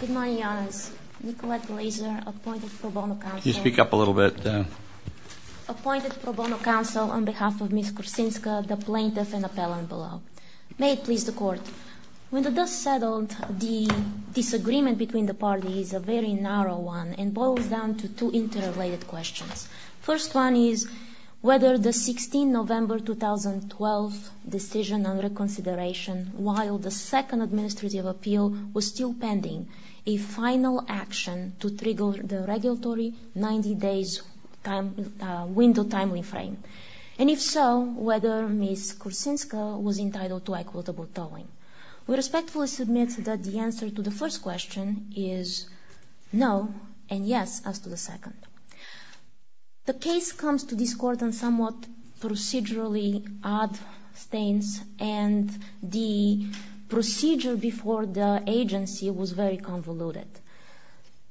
Good morning, Your Honours. Nicolette Glaeser, appointed pro bono counsel on behalf of Ms. Korsunska, the plaintiff and appellant below. May it please the Court. When the dust settled, the disagreement between the parties is a very narrow one and boils down to two interrelated questions. The first one is whether the 16 November 2012 decision under consideration, while the second administrative appeal was still pending, a final action to trigger the regulatory 90 days window time frame, and if so, whether Ms. Korsunska was entitled to equitable tolling. We respectfully submit that the answer to the first question is no and yes as to the second. The case comes to this Court on somewhat procedurally odd stains and the procedure before the agency was very convoluted.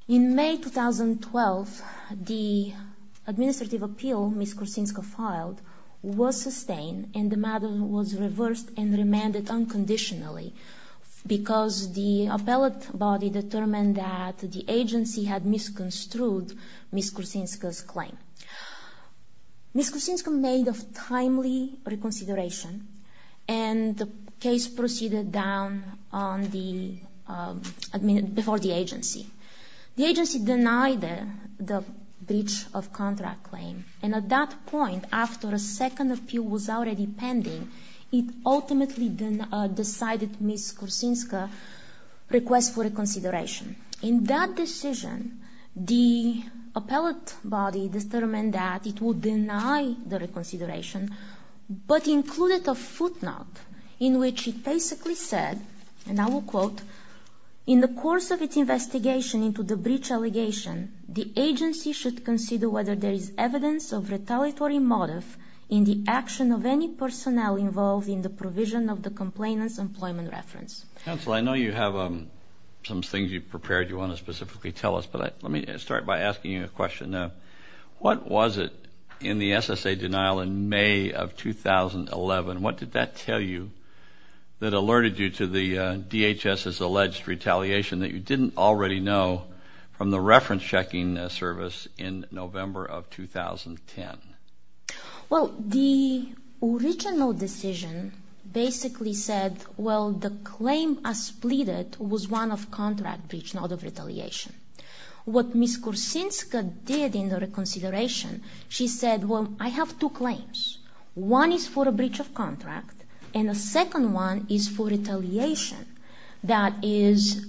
In May 2012, the administrative appeal Ms. Korsunska filed was sustained and the matter was reversed and remanded unconditionally because the appellate body determined that the agency had misconstrued Ms. Korsunska's claim. Ms. Korsunska made a timely reconsideration and the case proceeded down before the agency. The agency denied the breach of contract claim and at that point, after a second appeal was already pending, it ultimately decided Ms. Korsunska requests for a consideration. In that decision, the appellate body determined that it would deny the reconsideration but included a footnote in which it basically said, and I will quote, in the course of its investigation into the breach allegation, the agency should consider whether there is evidence of retaliatory motive in the action of any personnel involved in the provision of the complainant's employment reference. Counsel, I know you have some things you've prepared you want to specifically tell us, but let me start by asking you a question. What was it in the SSA denial in May of 2011? What did that tell you that alerted you to the DHS's alleged retaliation that you didn't already know from the reference checking service in November of 2010? Well, the original decision basically said, well, the claim as pleaded was one of contract breach, not of retaliation. What Ms. Korsunska did in the reconsideration, she said, well, I have two claims. One is for a breach of contract, and the second one is for retaliation. That is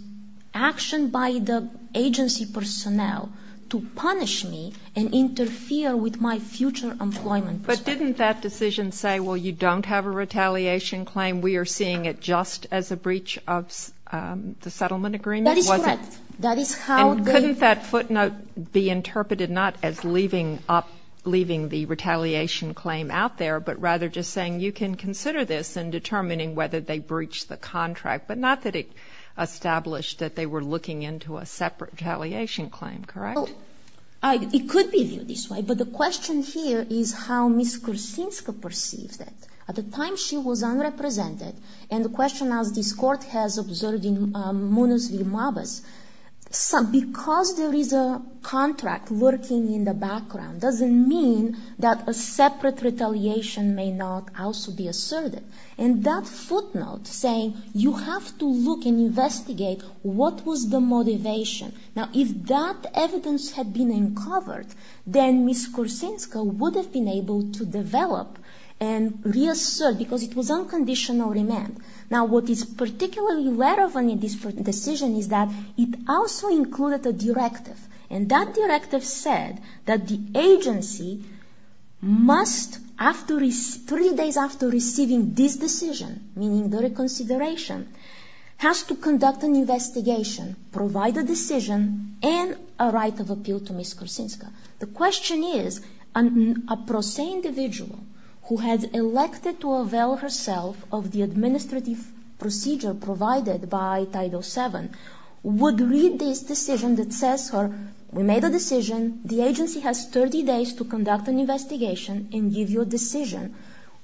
action by the agency personnel to punish me and interfere with my future employment. But didn't that decision say, well, you don't have a retaliation claim, we are seeing it just as a breach of the settlement agreement? That is correct. And couldn't that footnote be interpreted not as leaving up, leaving the retaliation claim out there, but rather just saying you can consider this in determining whether they breached the contract, but not that it established that they were looking into a separate retaliation claim, correct? It could be viewed this way, but the question here is how Ms. Korsunska perceived it. At the time she was unrepresented, and the question as this Court has observed in Munoz v. Mabos, because there is a contract lurking in the background doesn't mean that a separate retaliation may not also be asserted. And that footnote saying you have to look and investigate what was the motivation. Now, if that evidence had been uncovered, then Ms. Korsunska would have been able to develop and reassert, because it was unconditional remand. Now, what is particularly relevant in this decision is that it also included a directive. And that directive said that the agency must, three days after receiving this decision, meaning the reconsideration, has to conduct an investigation, provide a decision, and a right of appeal to Ms. Korsunska. The question is a pro se individual who had elected to avail herself of the administrative procedure provided by Title VII would read this decision that says we made a decision. The agency has 30 days to conduct an investigation and give you a decision.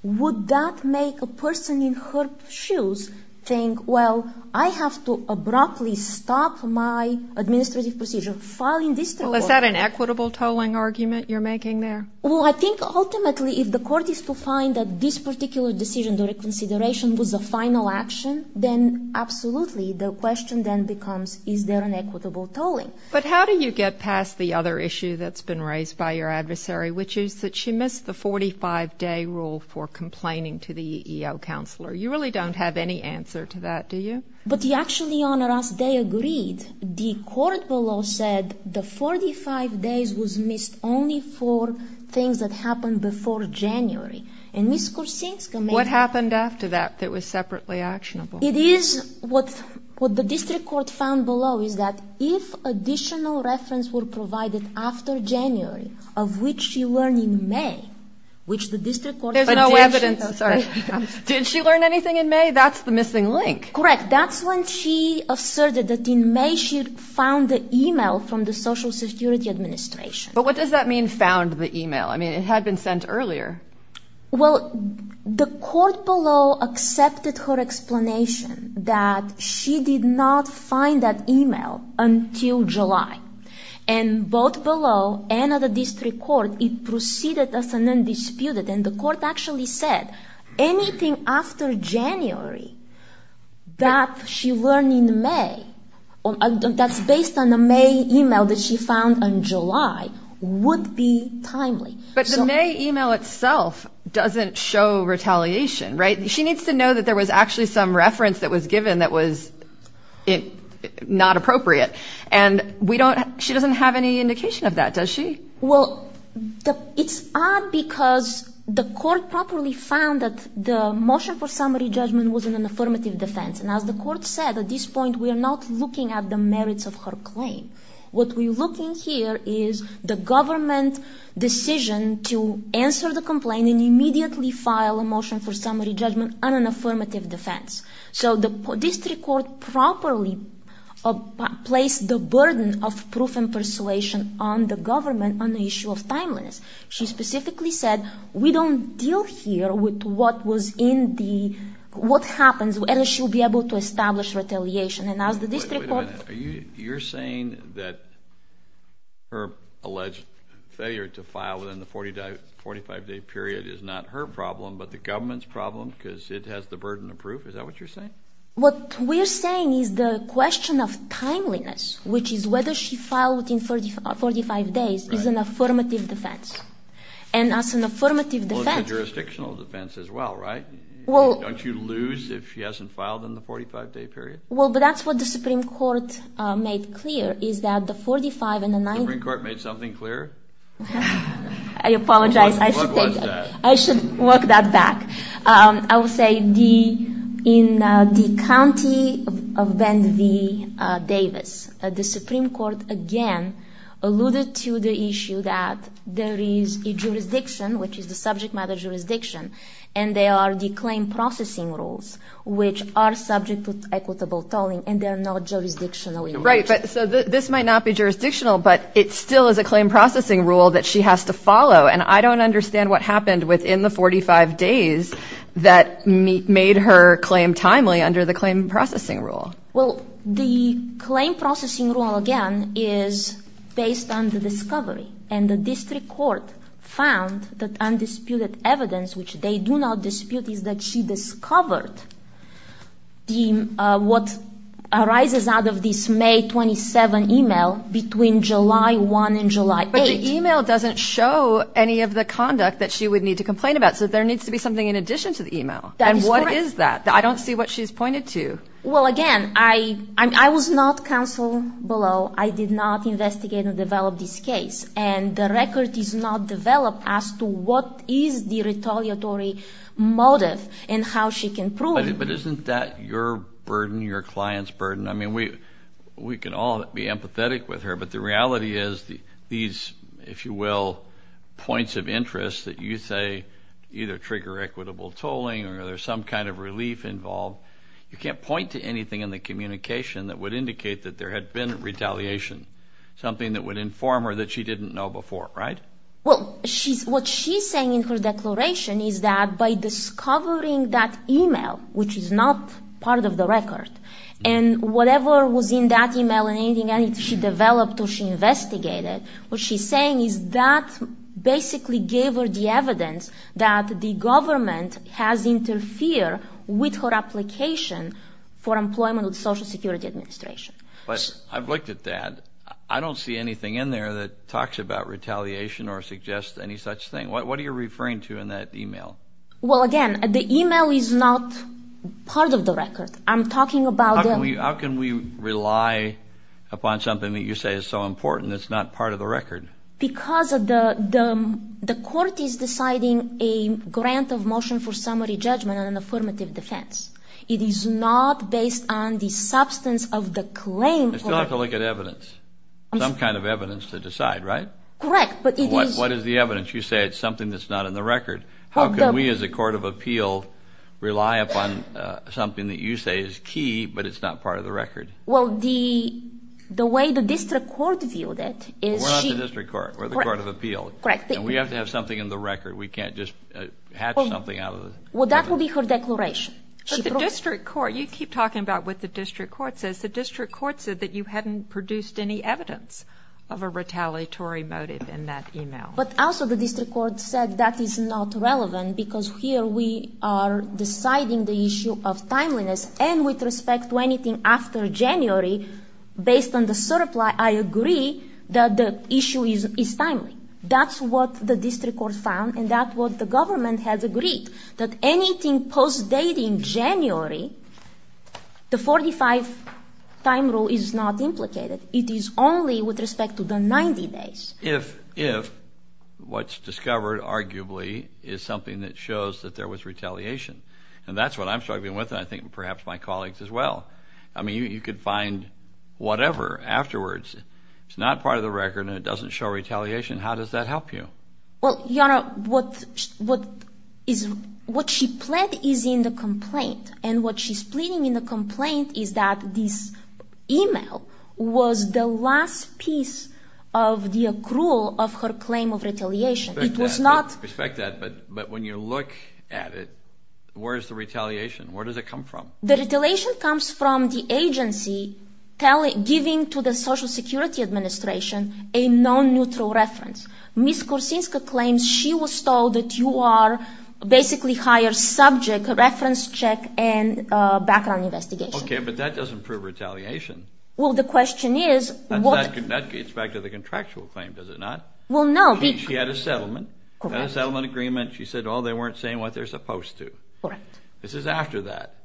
Would that make a person in her shoes think, well, I have to abruptly stop my administrative procedure, filing this toll. Well, is that an equitable tolling argument you're making there? Well, I think ultimately if the Court is to find that this particular decision, the reconsideration was a final action, then absolutely the question then becomes is there an equitable tolling. But how do you get past the other issue that's been raised by your adversary, which is that she missed the 45-day rule for complaining to the EEO counselor? You really don't have any answer to that, do you? But, Your Honor, they agreed. The Court below said the 45 days was missed only for things that happened before January. And Ms. Korsunska made... What happened after that that was separately actionable? It is what the district court found below is that if additional reference were provided after January, of which she learned in May, which the district court... There's no evidence. Sorry. Did she learn anything in May? That's the missing link. Correct. That's when she asserted that in May she found the e-mail from the Social Security Administration. But what does that mean, found the e-mail? I mean, it had been sent earlier. Well, the court below accepted her explanation that she did not find that e-mail until July. And both below and at the district court, it proceeded as an undisputed. And the court actually said anything after January that she learned in May, that's based on the May e-mail that she found in July, would be timely. But the May e-mail itself doesn't show retaliation, right? She needs to know that there was actually some reference that was given that was not appropriate. And we don't... She doesn't have any indication of that, does she? Well, it's odd because the court properly found that the motion for summary judgment was in an affirmative defense. And as the court said, at this point we are not looking at the merits of her claim. What we're looking here is the government decision to answer the complaint and immediately file a motion for summary judgment on an affirmative defense. So the district court properly placed the burden of proof and persuasion on the government on the issue of timeliness. She specifically said, we don't deal here with what was in the... what happens unless she will be able to establish retaliation. And as the district court... Wait a minute. You're saying that her alleged failure to file within the 45-day period is not her problem, but the government's problem because it has the burden of proof? Is that what you're saying? What we're saying is the question of timeliness, which is whether she filed within 45 days, is an affirmative defense. And as an affirmative defense... Well, it's a jurisdictional defense as well, right? Well... Don't you lose if she hasn't filed in the 45-day period? Well, but that's what the Supreme Court made clear is that the 45 and the 90... The Supreme Court made something clear? I apologize. What was that? I should work that back. I will say in the county of Bend v. Davis, the Supreme Court again alluded to the issue that there is a jurisdiction, which is the subject matter jurisdiction, and there are the claim processing rules, which are subject to equitable tolling, and they're not jurisdictional in nature. Right, but so this might not be jurisdictional, but it still is a claim processing rule that she has to follow, and I don't understand what happened within the 45 days that made her claim timely under the claim processing rule. Well, the claim processing rule, again, is based on the discovery, and the district court found that undisputed evidence, which they do not dispute, is that she discovered what arises out of this May 27 email between July 1 and July 8. But the email doesn't show any of the conduct that she would need to complain about, so there needs to be something in addition to the email. And what is that? I don't see what she's pointed to. Well, again, I was not counsel below. I did not investigate and develop this case, and the record is not developed as to what is the retaliatory motive and how she can prove it. But isn't that your burden, your client's burden? I mean, we can all be empathetic with her, but the reality is these, if you will, points of interest that you say either trigger equitable tolling or there's some kind of relief involved, you can't point to anything in the communication that would indicate that there had been retaliation, something that would inform her that she didn't know before, right? Well, what she's saying in her declaration is that by discovering that email, which is not part of the record, and whatever was in that email and anything she developed or she investigated, what she's saying is that basically gave her the evidence that the government has interfered with her application for employment with Social Security Administration. But I've looked at that. I don't see anything in there that talks about retaliation or suggests any such thing. What are you referring to in that email? Well, again, the email is not part of the record. I'm talking about the – How can we rely upon something that you say is so important that's not part of the record? Because the court is deciding a grant of motion for summary judgment on an affirmative defense. It is not based on the substance of the claim. You still have to look at evidence, some kind of evidence to decide, right? Correct, but it is – What is the evidence? You say it's something that's not in the record. How can we as a court of appeal rely upon something that you say is key but it's not part of the record? Well, the way the district court viewed it is she – The district court or the court of appeal. Correct. And we have to have something in the record. We can't just hatch something out of the – Well, that would be her declaration. But the district court – you keep talking about what the district court says. The district court said that you hadn't produced any evidence of a retaliatory motive in that email. But also the district court said that is not relevant because here we are deciding the issue of timeliness and with respect to anything after January, based on the surplus, I agree that the issue is timely. That's what the district court found and that's what the government has agreed, that anything post-dating January, the 45-time rule is not implicated. It is only with respect to the 90 days. If what's discovered arguably is something that shows that there was retaliation, and that's what I'm struggling with and I think perhaps my colleagues as well, I mean, you could find whatever afterwards. It's not part of the record and it doesn't show retaliation. How does that help you? Well, Your Honor, what she pled is in the complaint. And what she's pleading in the complaint is that this email was the last piece of the accrual of her claim of retaliation. It was not – I respect that, but when you look at it, where is the retaliation? Where does it come from? The retaliation comes from the agency giving to the Social Security Administration a non-neutral reference. Ms. Korsinska claims she was told that you are basically higher subject, reference check and background investigation. Okay, but that doesn't prove retaliation. Well, the question is – That gets back to the contractual claim, does it not? Well, no. She had a settlement. Correct. She had a settlement agreement. She said, oh, they weren't saying what they're supposed to. Correct. This is after that.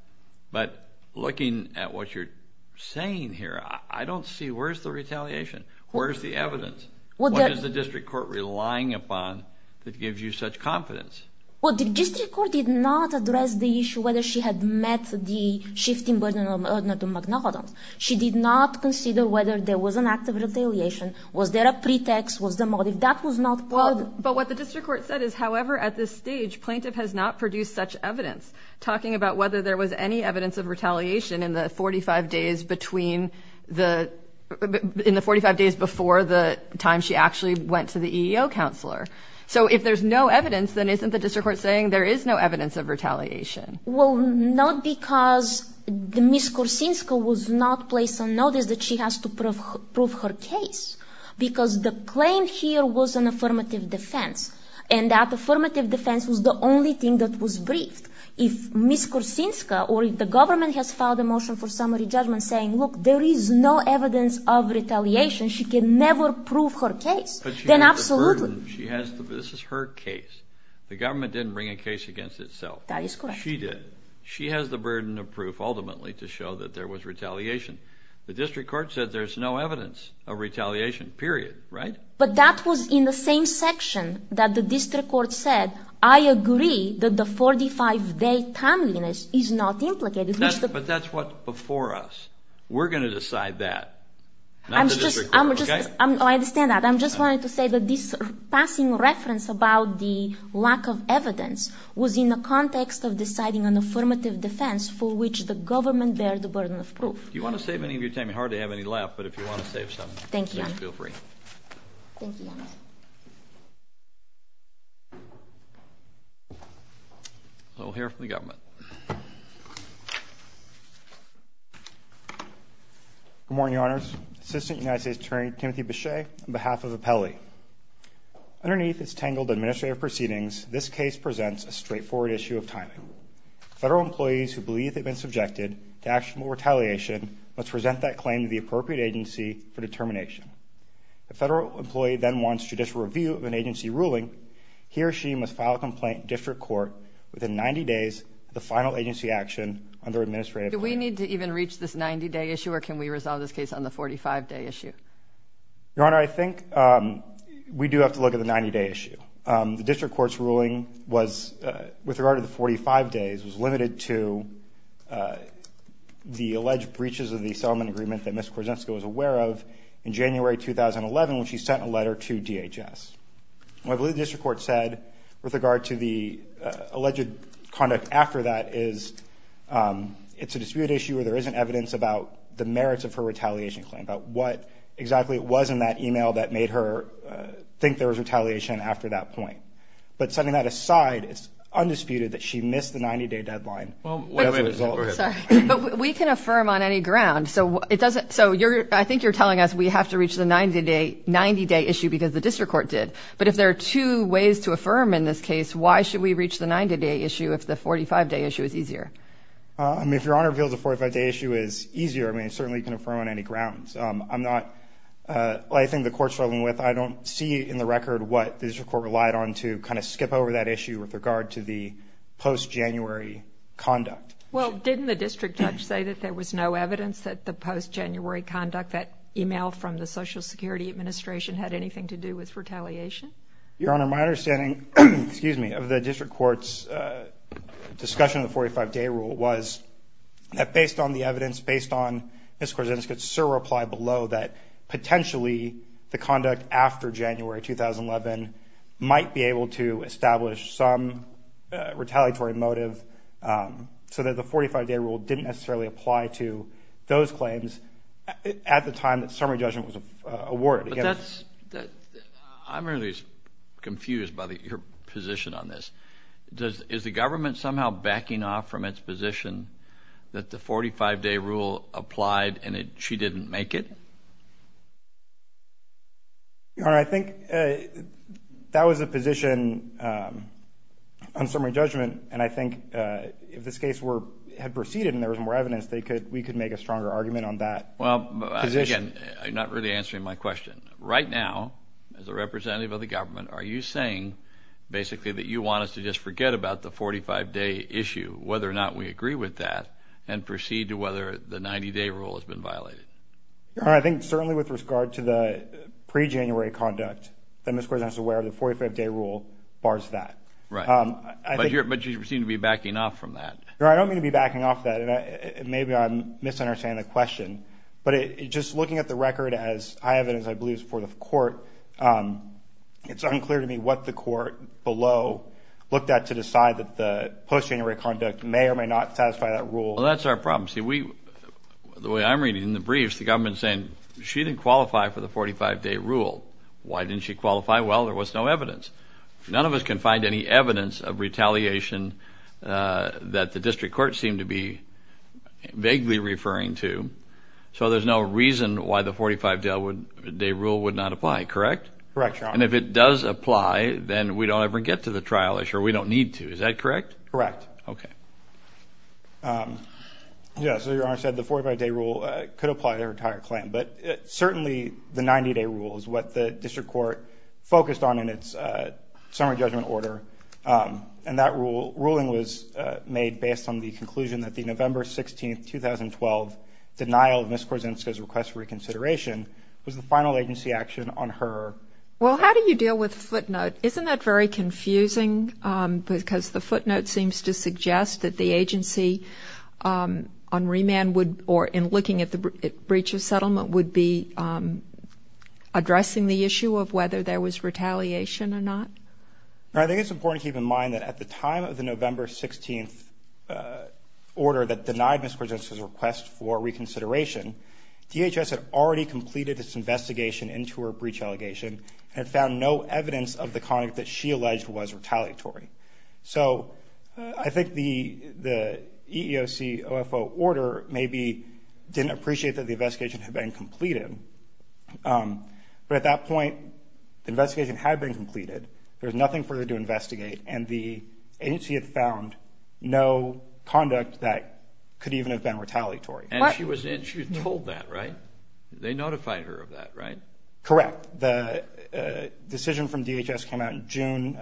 But looking at what you're saying here, I don't see – where's the retaliation? Where's the evidence? What is the district court relying upon that gives you such confidence? Well, the district court did not address the issue whether she had met the shifting burden of Magna Codons. She did not consider whether there was an act of retaliation. Was there a pretext? Was there a motive? That was not part of it. But what the district court said is, however, at this stage, plaintiff has not produced such evidence, talking about whether there was any evidence of retaliation in the 45 days between the – in the 45 days before the time she actually went to the EEO counselor. So if there's no evidence, then isn't the district court saying there is no evidence of retaliation? Well, not because Ms. Korsinska was not placed on notice that she has to prove her case, because the claim here was an affirmative defense, and that affirmative defense was the only thing that was briefed. If Ms. Korsinska or if the government has filed a motion for summary judgment saying, look, there is no evidence of retaliation, she can never prove her case, then absolutely. But she has the burden. She has the – this is her case. The government didn't bring a case against itself. That is correct. She did. She has the burden of proof ultimately to show that there was retaliation. The district court said there's no evidence of retaliation, period, right? But that was in the same section that the district court said, I agree that the 45-day timeliness is not implicated. But that's what before us. We're going to decide that, not the district court, okay? I understand that. I just wanted to say that this passing reference about the lack of evidence was in the context of deciding an affirmative defense for which the government bears the burden of proof. Do you want to save any of your time? You hardly have any left, but if you want to save some, please feel free. Thank you, Your Honor. Thank you, Your Honor. We'll hear from the government. Good morning, Your Honors. Assistant United States Attorney Timothy Bechet, on behalf of Apelli. this case presents a straightforward issue of timing. Federal employees who believe they've been subjected to actionable retaliation must present that claim to the appropriate agency for determination. The federal employee then wants judicial review of an agency ruling. He or she must file a complaint in district court within 90 days of the final agency action under administrative claim. Do we need to even reach this 90-day issue, or can we resolve this case on the 45-day issue? Your Honor, I think we do have to look at the 90-day issue. The district court's ruling was, with regard to the 45 days, was limited to the alleged breaches of the settlement agreement that Ms. Korzenska was aware of in January 2011 when she sent a letter to DHS. What the district court said with regard to the alleged conduct after that is it's a dispute issue where there isn't evidence about the merits of her retaliation claim, about what exactly it was in that email that made her think there was retaliation after that point. But setting that aside, it's undisputed that she missed the 90-day deadline. But we can affirm on any ground. So I think you're telling us we have to reach the 90-day issue because the district court did. But if there are two ways to affirm in this case, why should we reach the 90-day issue if the 45-day issue is easier? I mean, if Your Honor feels the 45-day issue is easier, I mean, certainly you can affirm on any grounds. I'm not – I think the court's struggling with – I don't see in the record what the district court relied on to kind of skip over that issue with regard to the post-January conduct. Well, didn't the district judge say that there was no evidence that the post-January conduct, that email from the Social Security Administration, had anything to do with retaliation? Your Honor, my understanding – excuse me – of the district court's discussion of the 45-day rule was that based on the evidence, based on Ms. Korzynska's surreply below, that potentially the conduct after January 2011 might be able to establish some retaliatory motive so that the 45-day rule didn't necessarily apply to those claims at the time that summary judgment was awarded. But that's – I'm really confused by your position on this. Is the government somehow backing off from its position that the 45-day rule applied and she didn't make it? Your Honor, I think that was the position on summary judgment, and I think if this case had proceeded and there was more evidence, we could make a stronger argument on that position. Well, again, you're not really answering my question. Right now, as a representative of the government, are you saying basically that you want us to just forget about the 45-day issue, whether or not we agree with that, and proceed to whether the 90-day rule has been violated? Your Honor, I think certainly with regard to the pre-January conduct, Ms. Korzynska is aware of the 45-day rule bars that. Right. But you seem to be backing off from that. Your Honor, I don't mean to be backing off that. Maybe I'm misunderstanding the question. But just looking at the record as high evidence, I believe, for the court, it's unclear to me what the court below looked at to decide that the post-January conduct may or may not satisfy that rule. Well, that's our problem. See, the way I'm reading the briefs, the government is saying she didn't qualify for the 45-day rule. Why didn't she qualify? Well, there was no evidence. None of us can find any evidence of retaliation that the district court seemed to be vaguely referring to, so there's no reason why the 45-day rule would not apply, correct? Correct, Your Honor. And if it does apply, then we don't ever get to the trial issue, or we don't need to. Is that correct? Correct. Okay. Yeah, so Your Honor said the 45-day rule could apply to her entire claim. But certainly the 90-day rule is what the district court focused on in its summary judgment order, and that ruling was made based on the conclusion that the November 16, 2012, denial of Ms. Korzynska's request for reconsideration was the final agency action on her. Well, how do you deal with footnote? Isn't that very confusing? Because the footnote seems to suggest that the agency on remand would, or in looking at the breach of settlement, would be addressing the issue of whether there was retaliation or not. I think it's important to keep in mind that at the time of the November 16 order that denied Ms. Korzynska's request for reconsideration, DHS had already completed its investigation into her breach allegation and had found no evidence of the conduct that she alleged was retaliatory. So I think the EEOC OFO order maybe didn't appreciate that the investigation had been completed. But at that point, the investigation had been completed. There was nothing further to investigate, and the agency had found no conduct that could even have been retaliatory. And she was told that, right? They notified her of that, right? Correct. The decision from DHS came out in June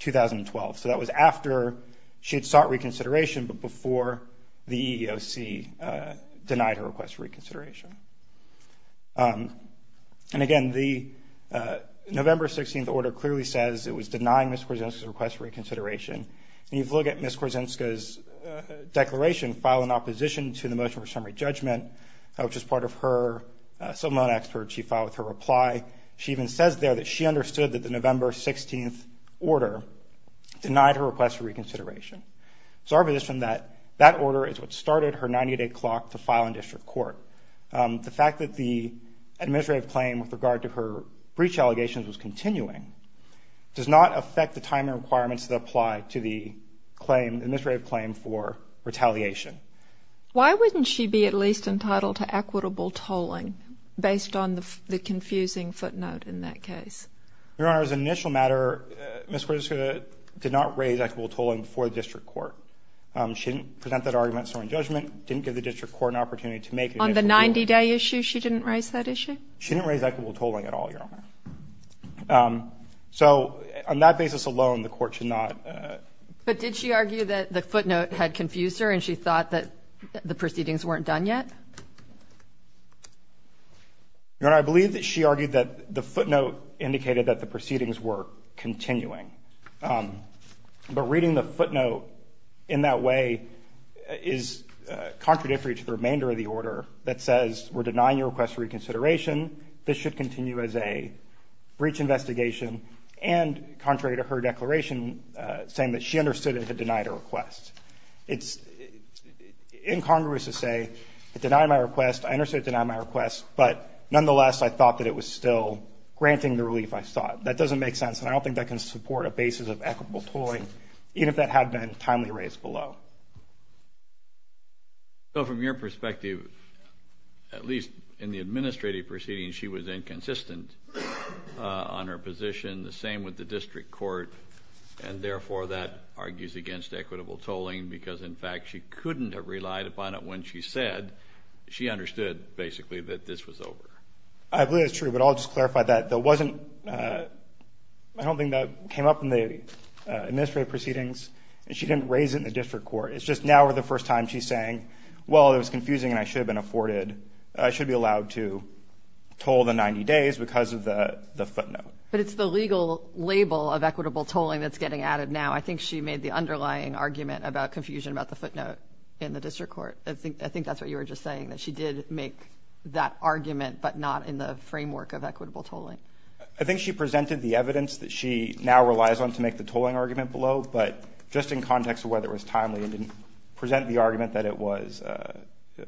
2012. So that was after she had sought reconsideration but before the EEOC denied her request for reconsideration. And again, the November 16 order clearly says it was denying Ms. Korzynska's request for reconsideration. And if you look at Ms. Korzynska's declaration filed in opposition to the motion for summary judgment, which is part of her subordinate expert chief file with her reply, she even says there that she understood that the November 16 order denied her request for reconsideration. So our position is that that order is what started her 90-day clock to file in district court. The fact that the administrative claim with regard to her breach allegations was continuing does not affect the time and requirements that apply to the claim, the administrative claim for retaliation. Why wouldn't she be at least entitled to equitable tolling based on the confusing footnote in that case? Your Honor, as an initial matter, Ms. Korzynska did not raise equitable tolling for the district court. She didn't present that argument in summary judgment, didn't give the district court an opportunity to make it. On the 90-day issue, she didn't raise that issue? She didn't raise equitable tolling at all, Your Honor. So on that basis alone, the court should not. But did she argue that the footnote had confused her and she thought that the proceedings weren't done yet? Your Honor, I believe that she argued that the footnote indicated that the proceedings were continuing. But reading the footnote in that way is contradictory to the remainder of the order that says we're denying your request for reconsideration. This should continue as a breach investigation and contrary to her declaration saying that she understood it had denied her request. It's incongruous to say it denied my request. I understood it denied my request, but nonetheless, I thought that it was still granting the relief I sought. That doesn't make sense, and I don't think that can support a basis of equitable tolling, even if that had been timely raised below. So from your perspective, at least in the administrative proceedings, she was inconsistent on her position. The same with the district court, and therefore that argues against equitable tolling because, in fact, she couldn't have relied upon it when she said she understood, basically, that this was over. I believe that's true, but I'll just clarify that. I don't think that came up in the administrative proceedings. She didn't raise it in the district court. It's just now for the first time she's saying, well, it was confusing and I should have been afforded. I should be allowed to toll the 90 days because of the footnote. But it's the legal label of equitable tolling that's getting added now. I think she made the underlying argument about confusion about the footnote in the district court. I think that's what you were just saying, that she did make that argument, but not in the framework of equitable tolling. I think she presented the evidence that she now relies on to make the tolling argument below, but just in context of whether it was timely and didn't present the argument that it was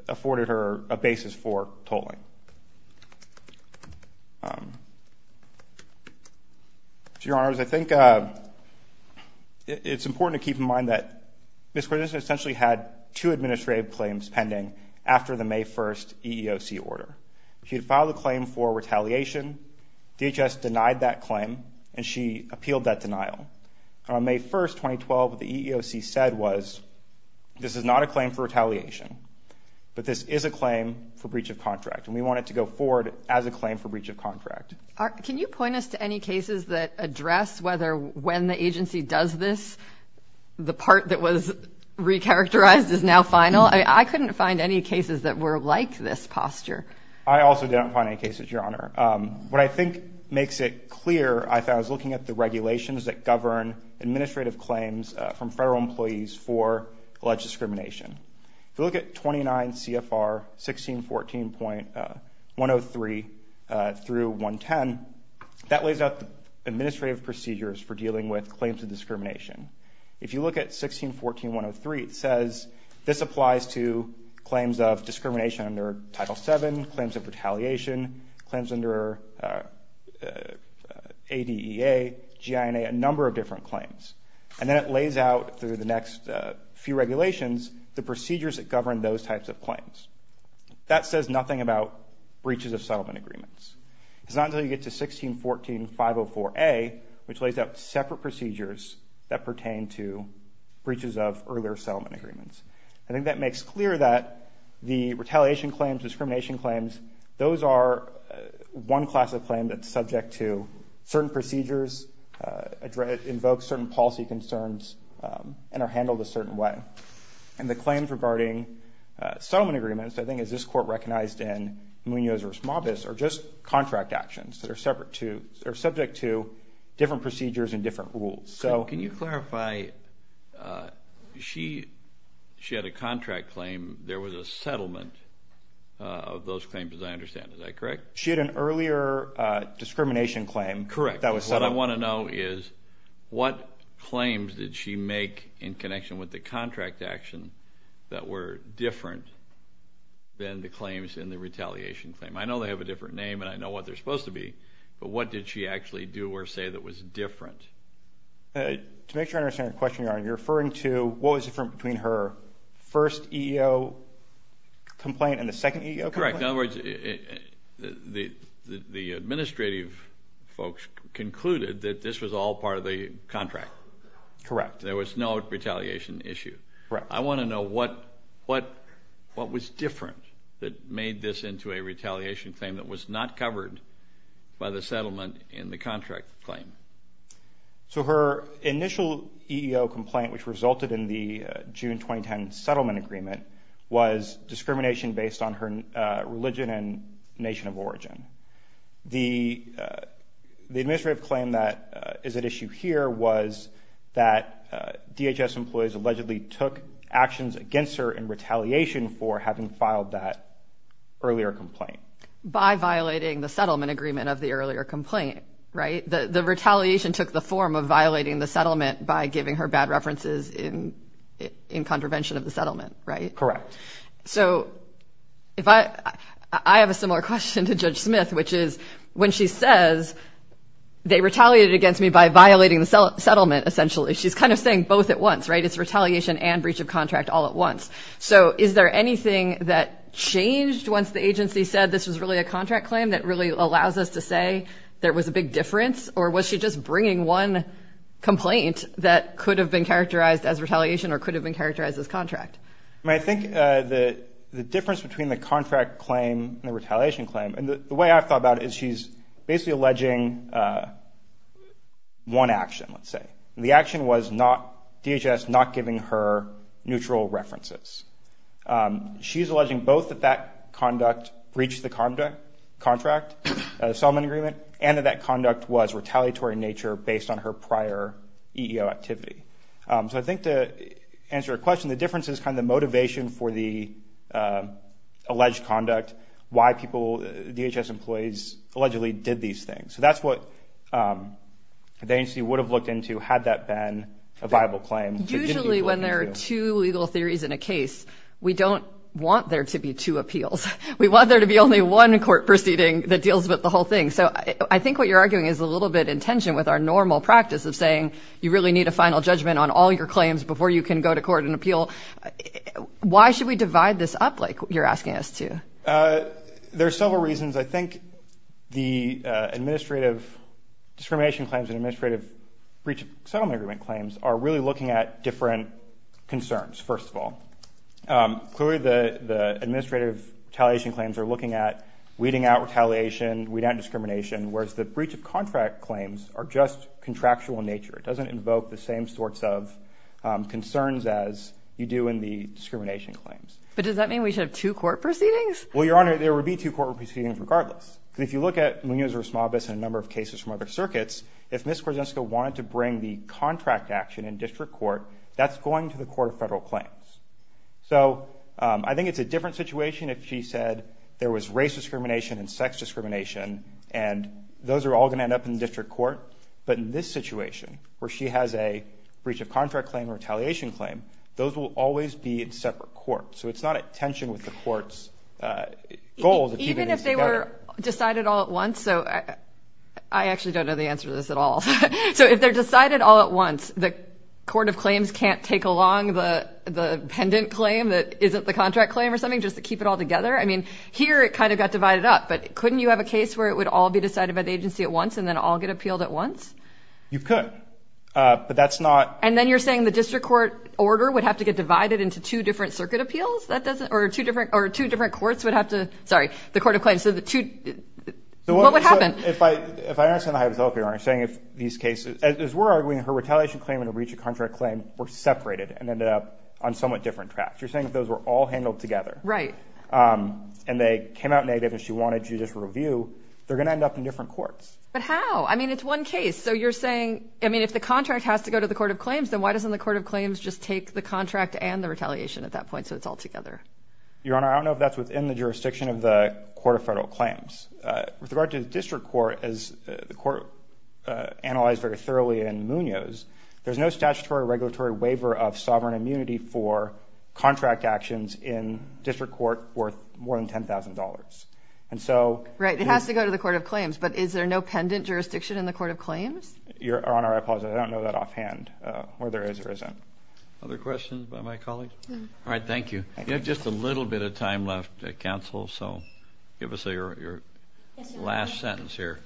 afforded her a basis for tolling. So, Your Honors, I think it's important to keep in mind that Ms. Cordes essentially had two administrative claims pending after the May 1st EEOC order. She had filed a claim for retaliation. DHS denied that claim, and she appealed that denial. On May 1st, 2012, what the EEOC said was, this is not a claim for retaliation, but this is a claim for breach of contract. And we want it to go forward as a claim for breach of contract. Can you point us to any cases that address whether when the agency does this, the part that was recharacterized is now final? I couldn't find any cases that were like this posture. I also didn't find any cases, Your Honor. What I think makes it clear, I found, is looking at the regulations that govern administrative claims from federal employees for alleged discrimination. If you look at 29 CFR 1614.103 through 110, that lays out the administrative procedures for dealing with claims of discrimination. If you look at 1614.103, it says this applies to claims of discrimination under Title VII, claims of retaliation, claims under ADEA, GINA, a number of different claims. And then it lays out, through the next few regulations, the procedures that govern those types of claims. That says nothing about breaches of settlement agreements. It's not until you get to 1614.504A, which lays out separate procedures that pertain to breaches of earlier settlement agreements. I think that makes clear that the retaliation claims, discrimination claims, those are one class of claim that's subject to certain procedures, invoke certain policy concerns, and are handled a certain way. And the claims regarding settlement agreements, I think, as this Court recognized in Munoz v. Mabus, are just contract actions that are subject to different procedures and different rules. Can you clarify, she had a contract claim. There was a settlement of those claims, as I understand. Is that correct? She had an earlier discrimination claim that was settled. What I want to know is, what claims did she make in connection with the contract action that were different than the claims in the retaliation claim? I know they have a different name, and I know what they're supposed to be, but what did she actually do or say that was different? To make sure I understand your question, Your Honor, you're referring to what was different between her first EEO complaint and the second EEO complaint? That's correct. In other words, the administrative folks concluded that this was all part of the contract. Correct. There was no retaliation issue. I want to know what was different that made this into a retaliation claim that was not covered by the settlement in the contract claim. So her initial EEO complaint, which resulted in the June 2010 settlement agreement, was discrimination based on her religion and nation of origin. The administrative claim that is at issue here was that DHS employees allegedly took actions against her in retaliation for having filed that earlier complaint. By violating the settlement agreement of the earlier complaint, right? The retaliation took the form of violating the settlement by giving her bad references in contravention of the settlement, right? Correct. So I have a similar question to Judge Smith, which is when she says they retaliated against me by violating the settlement, essentially, she's kind of saying both at once, right? It's retaliation and breach of contract all at once. So is there anything that changed once the agency said this was really a contract claim that really allows us to say there was a big difference, or was she just bringing one complaint that could have been characterized as retaliation or could have been characterized as contract? I think the difference between the contract claim and the retaliation claim, and the way I've thought about it is she's basically alleging one action, let's say. The action was DHS not giving her neutral references. She's alleging both that that conduct breached the contract, the settlement agreement, and that that conduct was retaliatory in nature based on her prior EEO activity. So I think to answer her question, the difference is kind of the motivation for the alleged conduct, why people, DHS employees, allegedly did these things. So that's what the agency would have looked into had that been a viable claim. Usually when there are two legal theories in a case, we don't want there to be two appeals. We want there to be only one court proceeding that deals with the whole thing. So I think what you're arguing is a little bit in tension with our normal practice of saying you really need a final judgment on all your claims before you can go to court and appeal. Why should we divide this up like you're asking us to? There are several reasons. I think the administrative discrimination claims and administrative breach of settlement agreement claims are really looking at different concerns, first of all. Clearly the administrative retaliation claims are looking at weeding out retaliation, weeding out discrimination, whereas the breach of contract claims are just contractual in nature. It doesn't invoke the same sorts of concerns as you do in the discrimination claims. But does that mean we should have two court proceedings? Well, Your Honor, there would be two court proceedings regardless. If you look at Munoz v. Esmobis and a number of cases from other circuits, if Ms. Korzeniska wanted to bring the contract action in district court, that's going to the Court of Federal Claims. So I think it's a different situation if she said there was race discrimination and sex discrimination and those are all going to end up in district court. But in this situation where she has a breach of contract claim or retaliation claim, those will always be in separate courts. So it's not a tension with the court's goals of keeping these together. Even if they were decided all at once? So I actually don't know the answer to this at all. So if they're decided all at once, the Court of Claims can't take along the pendant claim that isn't the contract claim or something just to keep it all together? I mean, here it kind of got divided up. But couldn't you have a case where it would all be decided by the agency at once and then all get appealed at once? You could. But that's not – And then you're saying the district court order would have to get divided into two different circuit appeals? Or two different courts would have to – sorry, the Court of Claims. What would happen? If I understand the hypothetical, Your Honor, you're saying if these cases – as we're arguing, her retaliation claim and her breach of contract claim were separated and ended up on somewhat different tracks. You're saying if those were all handled together. Right. And they came out negative and she wanted to just review, they're going to end up in different courts. But how? I mean, it's one case. So you're saying – I mean, if the contract has to go to the Court of Claims, then why doesn't the Court of Claims just take the contract and the retaliation at that point so it's all together? Your Honor, I don't know if that's within the jurisdiction of the Court of Federal Claims. With regard to the district court, as the court analyzed very thoroughly in Munoz, there's no statutory regulatory waiver of sovereign immunity for contract actions in district court worth more than $10,000. And so – Right. It has to go to the Court of Claims. But is there no pendant jurisdiction in the Court of Claims? Your Honor, I apologize. I don't know that offhand, whether there is or isn't. Other questions by my colleagues? All right. Thank you. You have just a little bit of time left, counsel, so give us your last sentence here.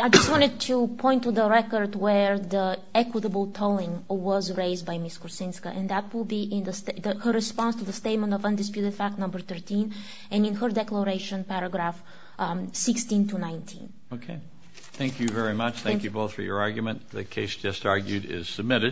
I just wanted to point to the record where the equitable tolling was raised by Ms. Kuczynska, and that will be in her response to the statement of undisputed fact number 13 and in her declaration, paragraph 16 to 19. Okay. Thank you very much. Thank you both for your argument. The case just argued is submitted.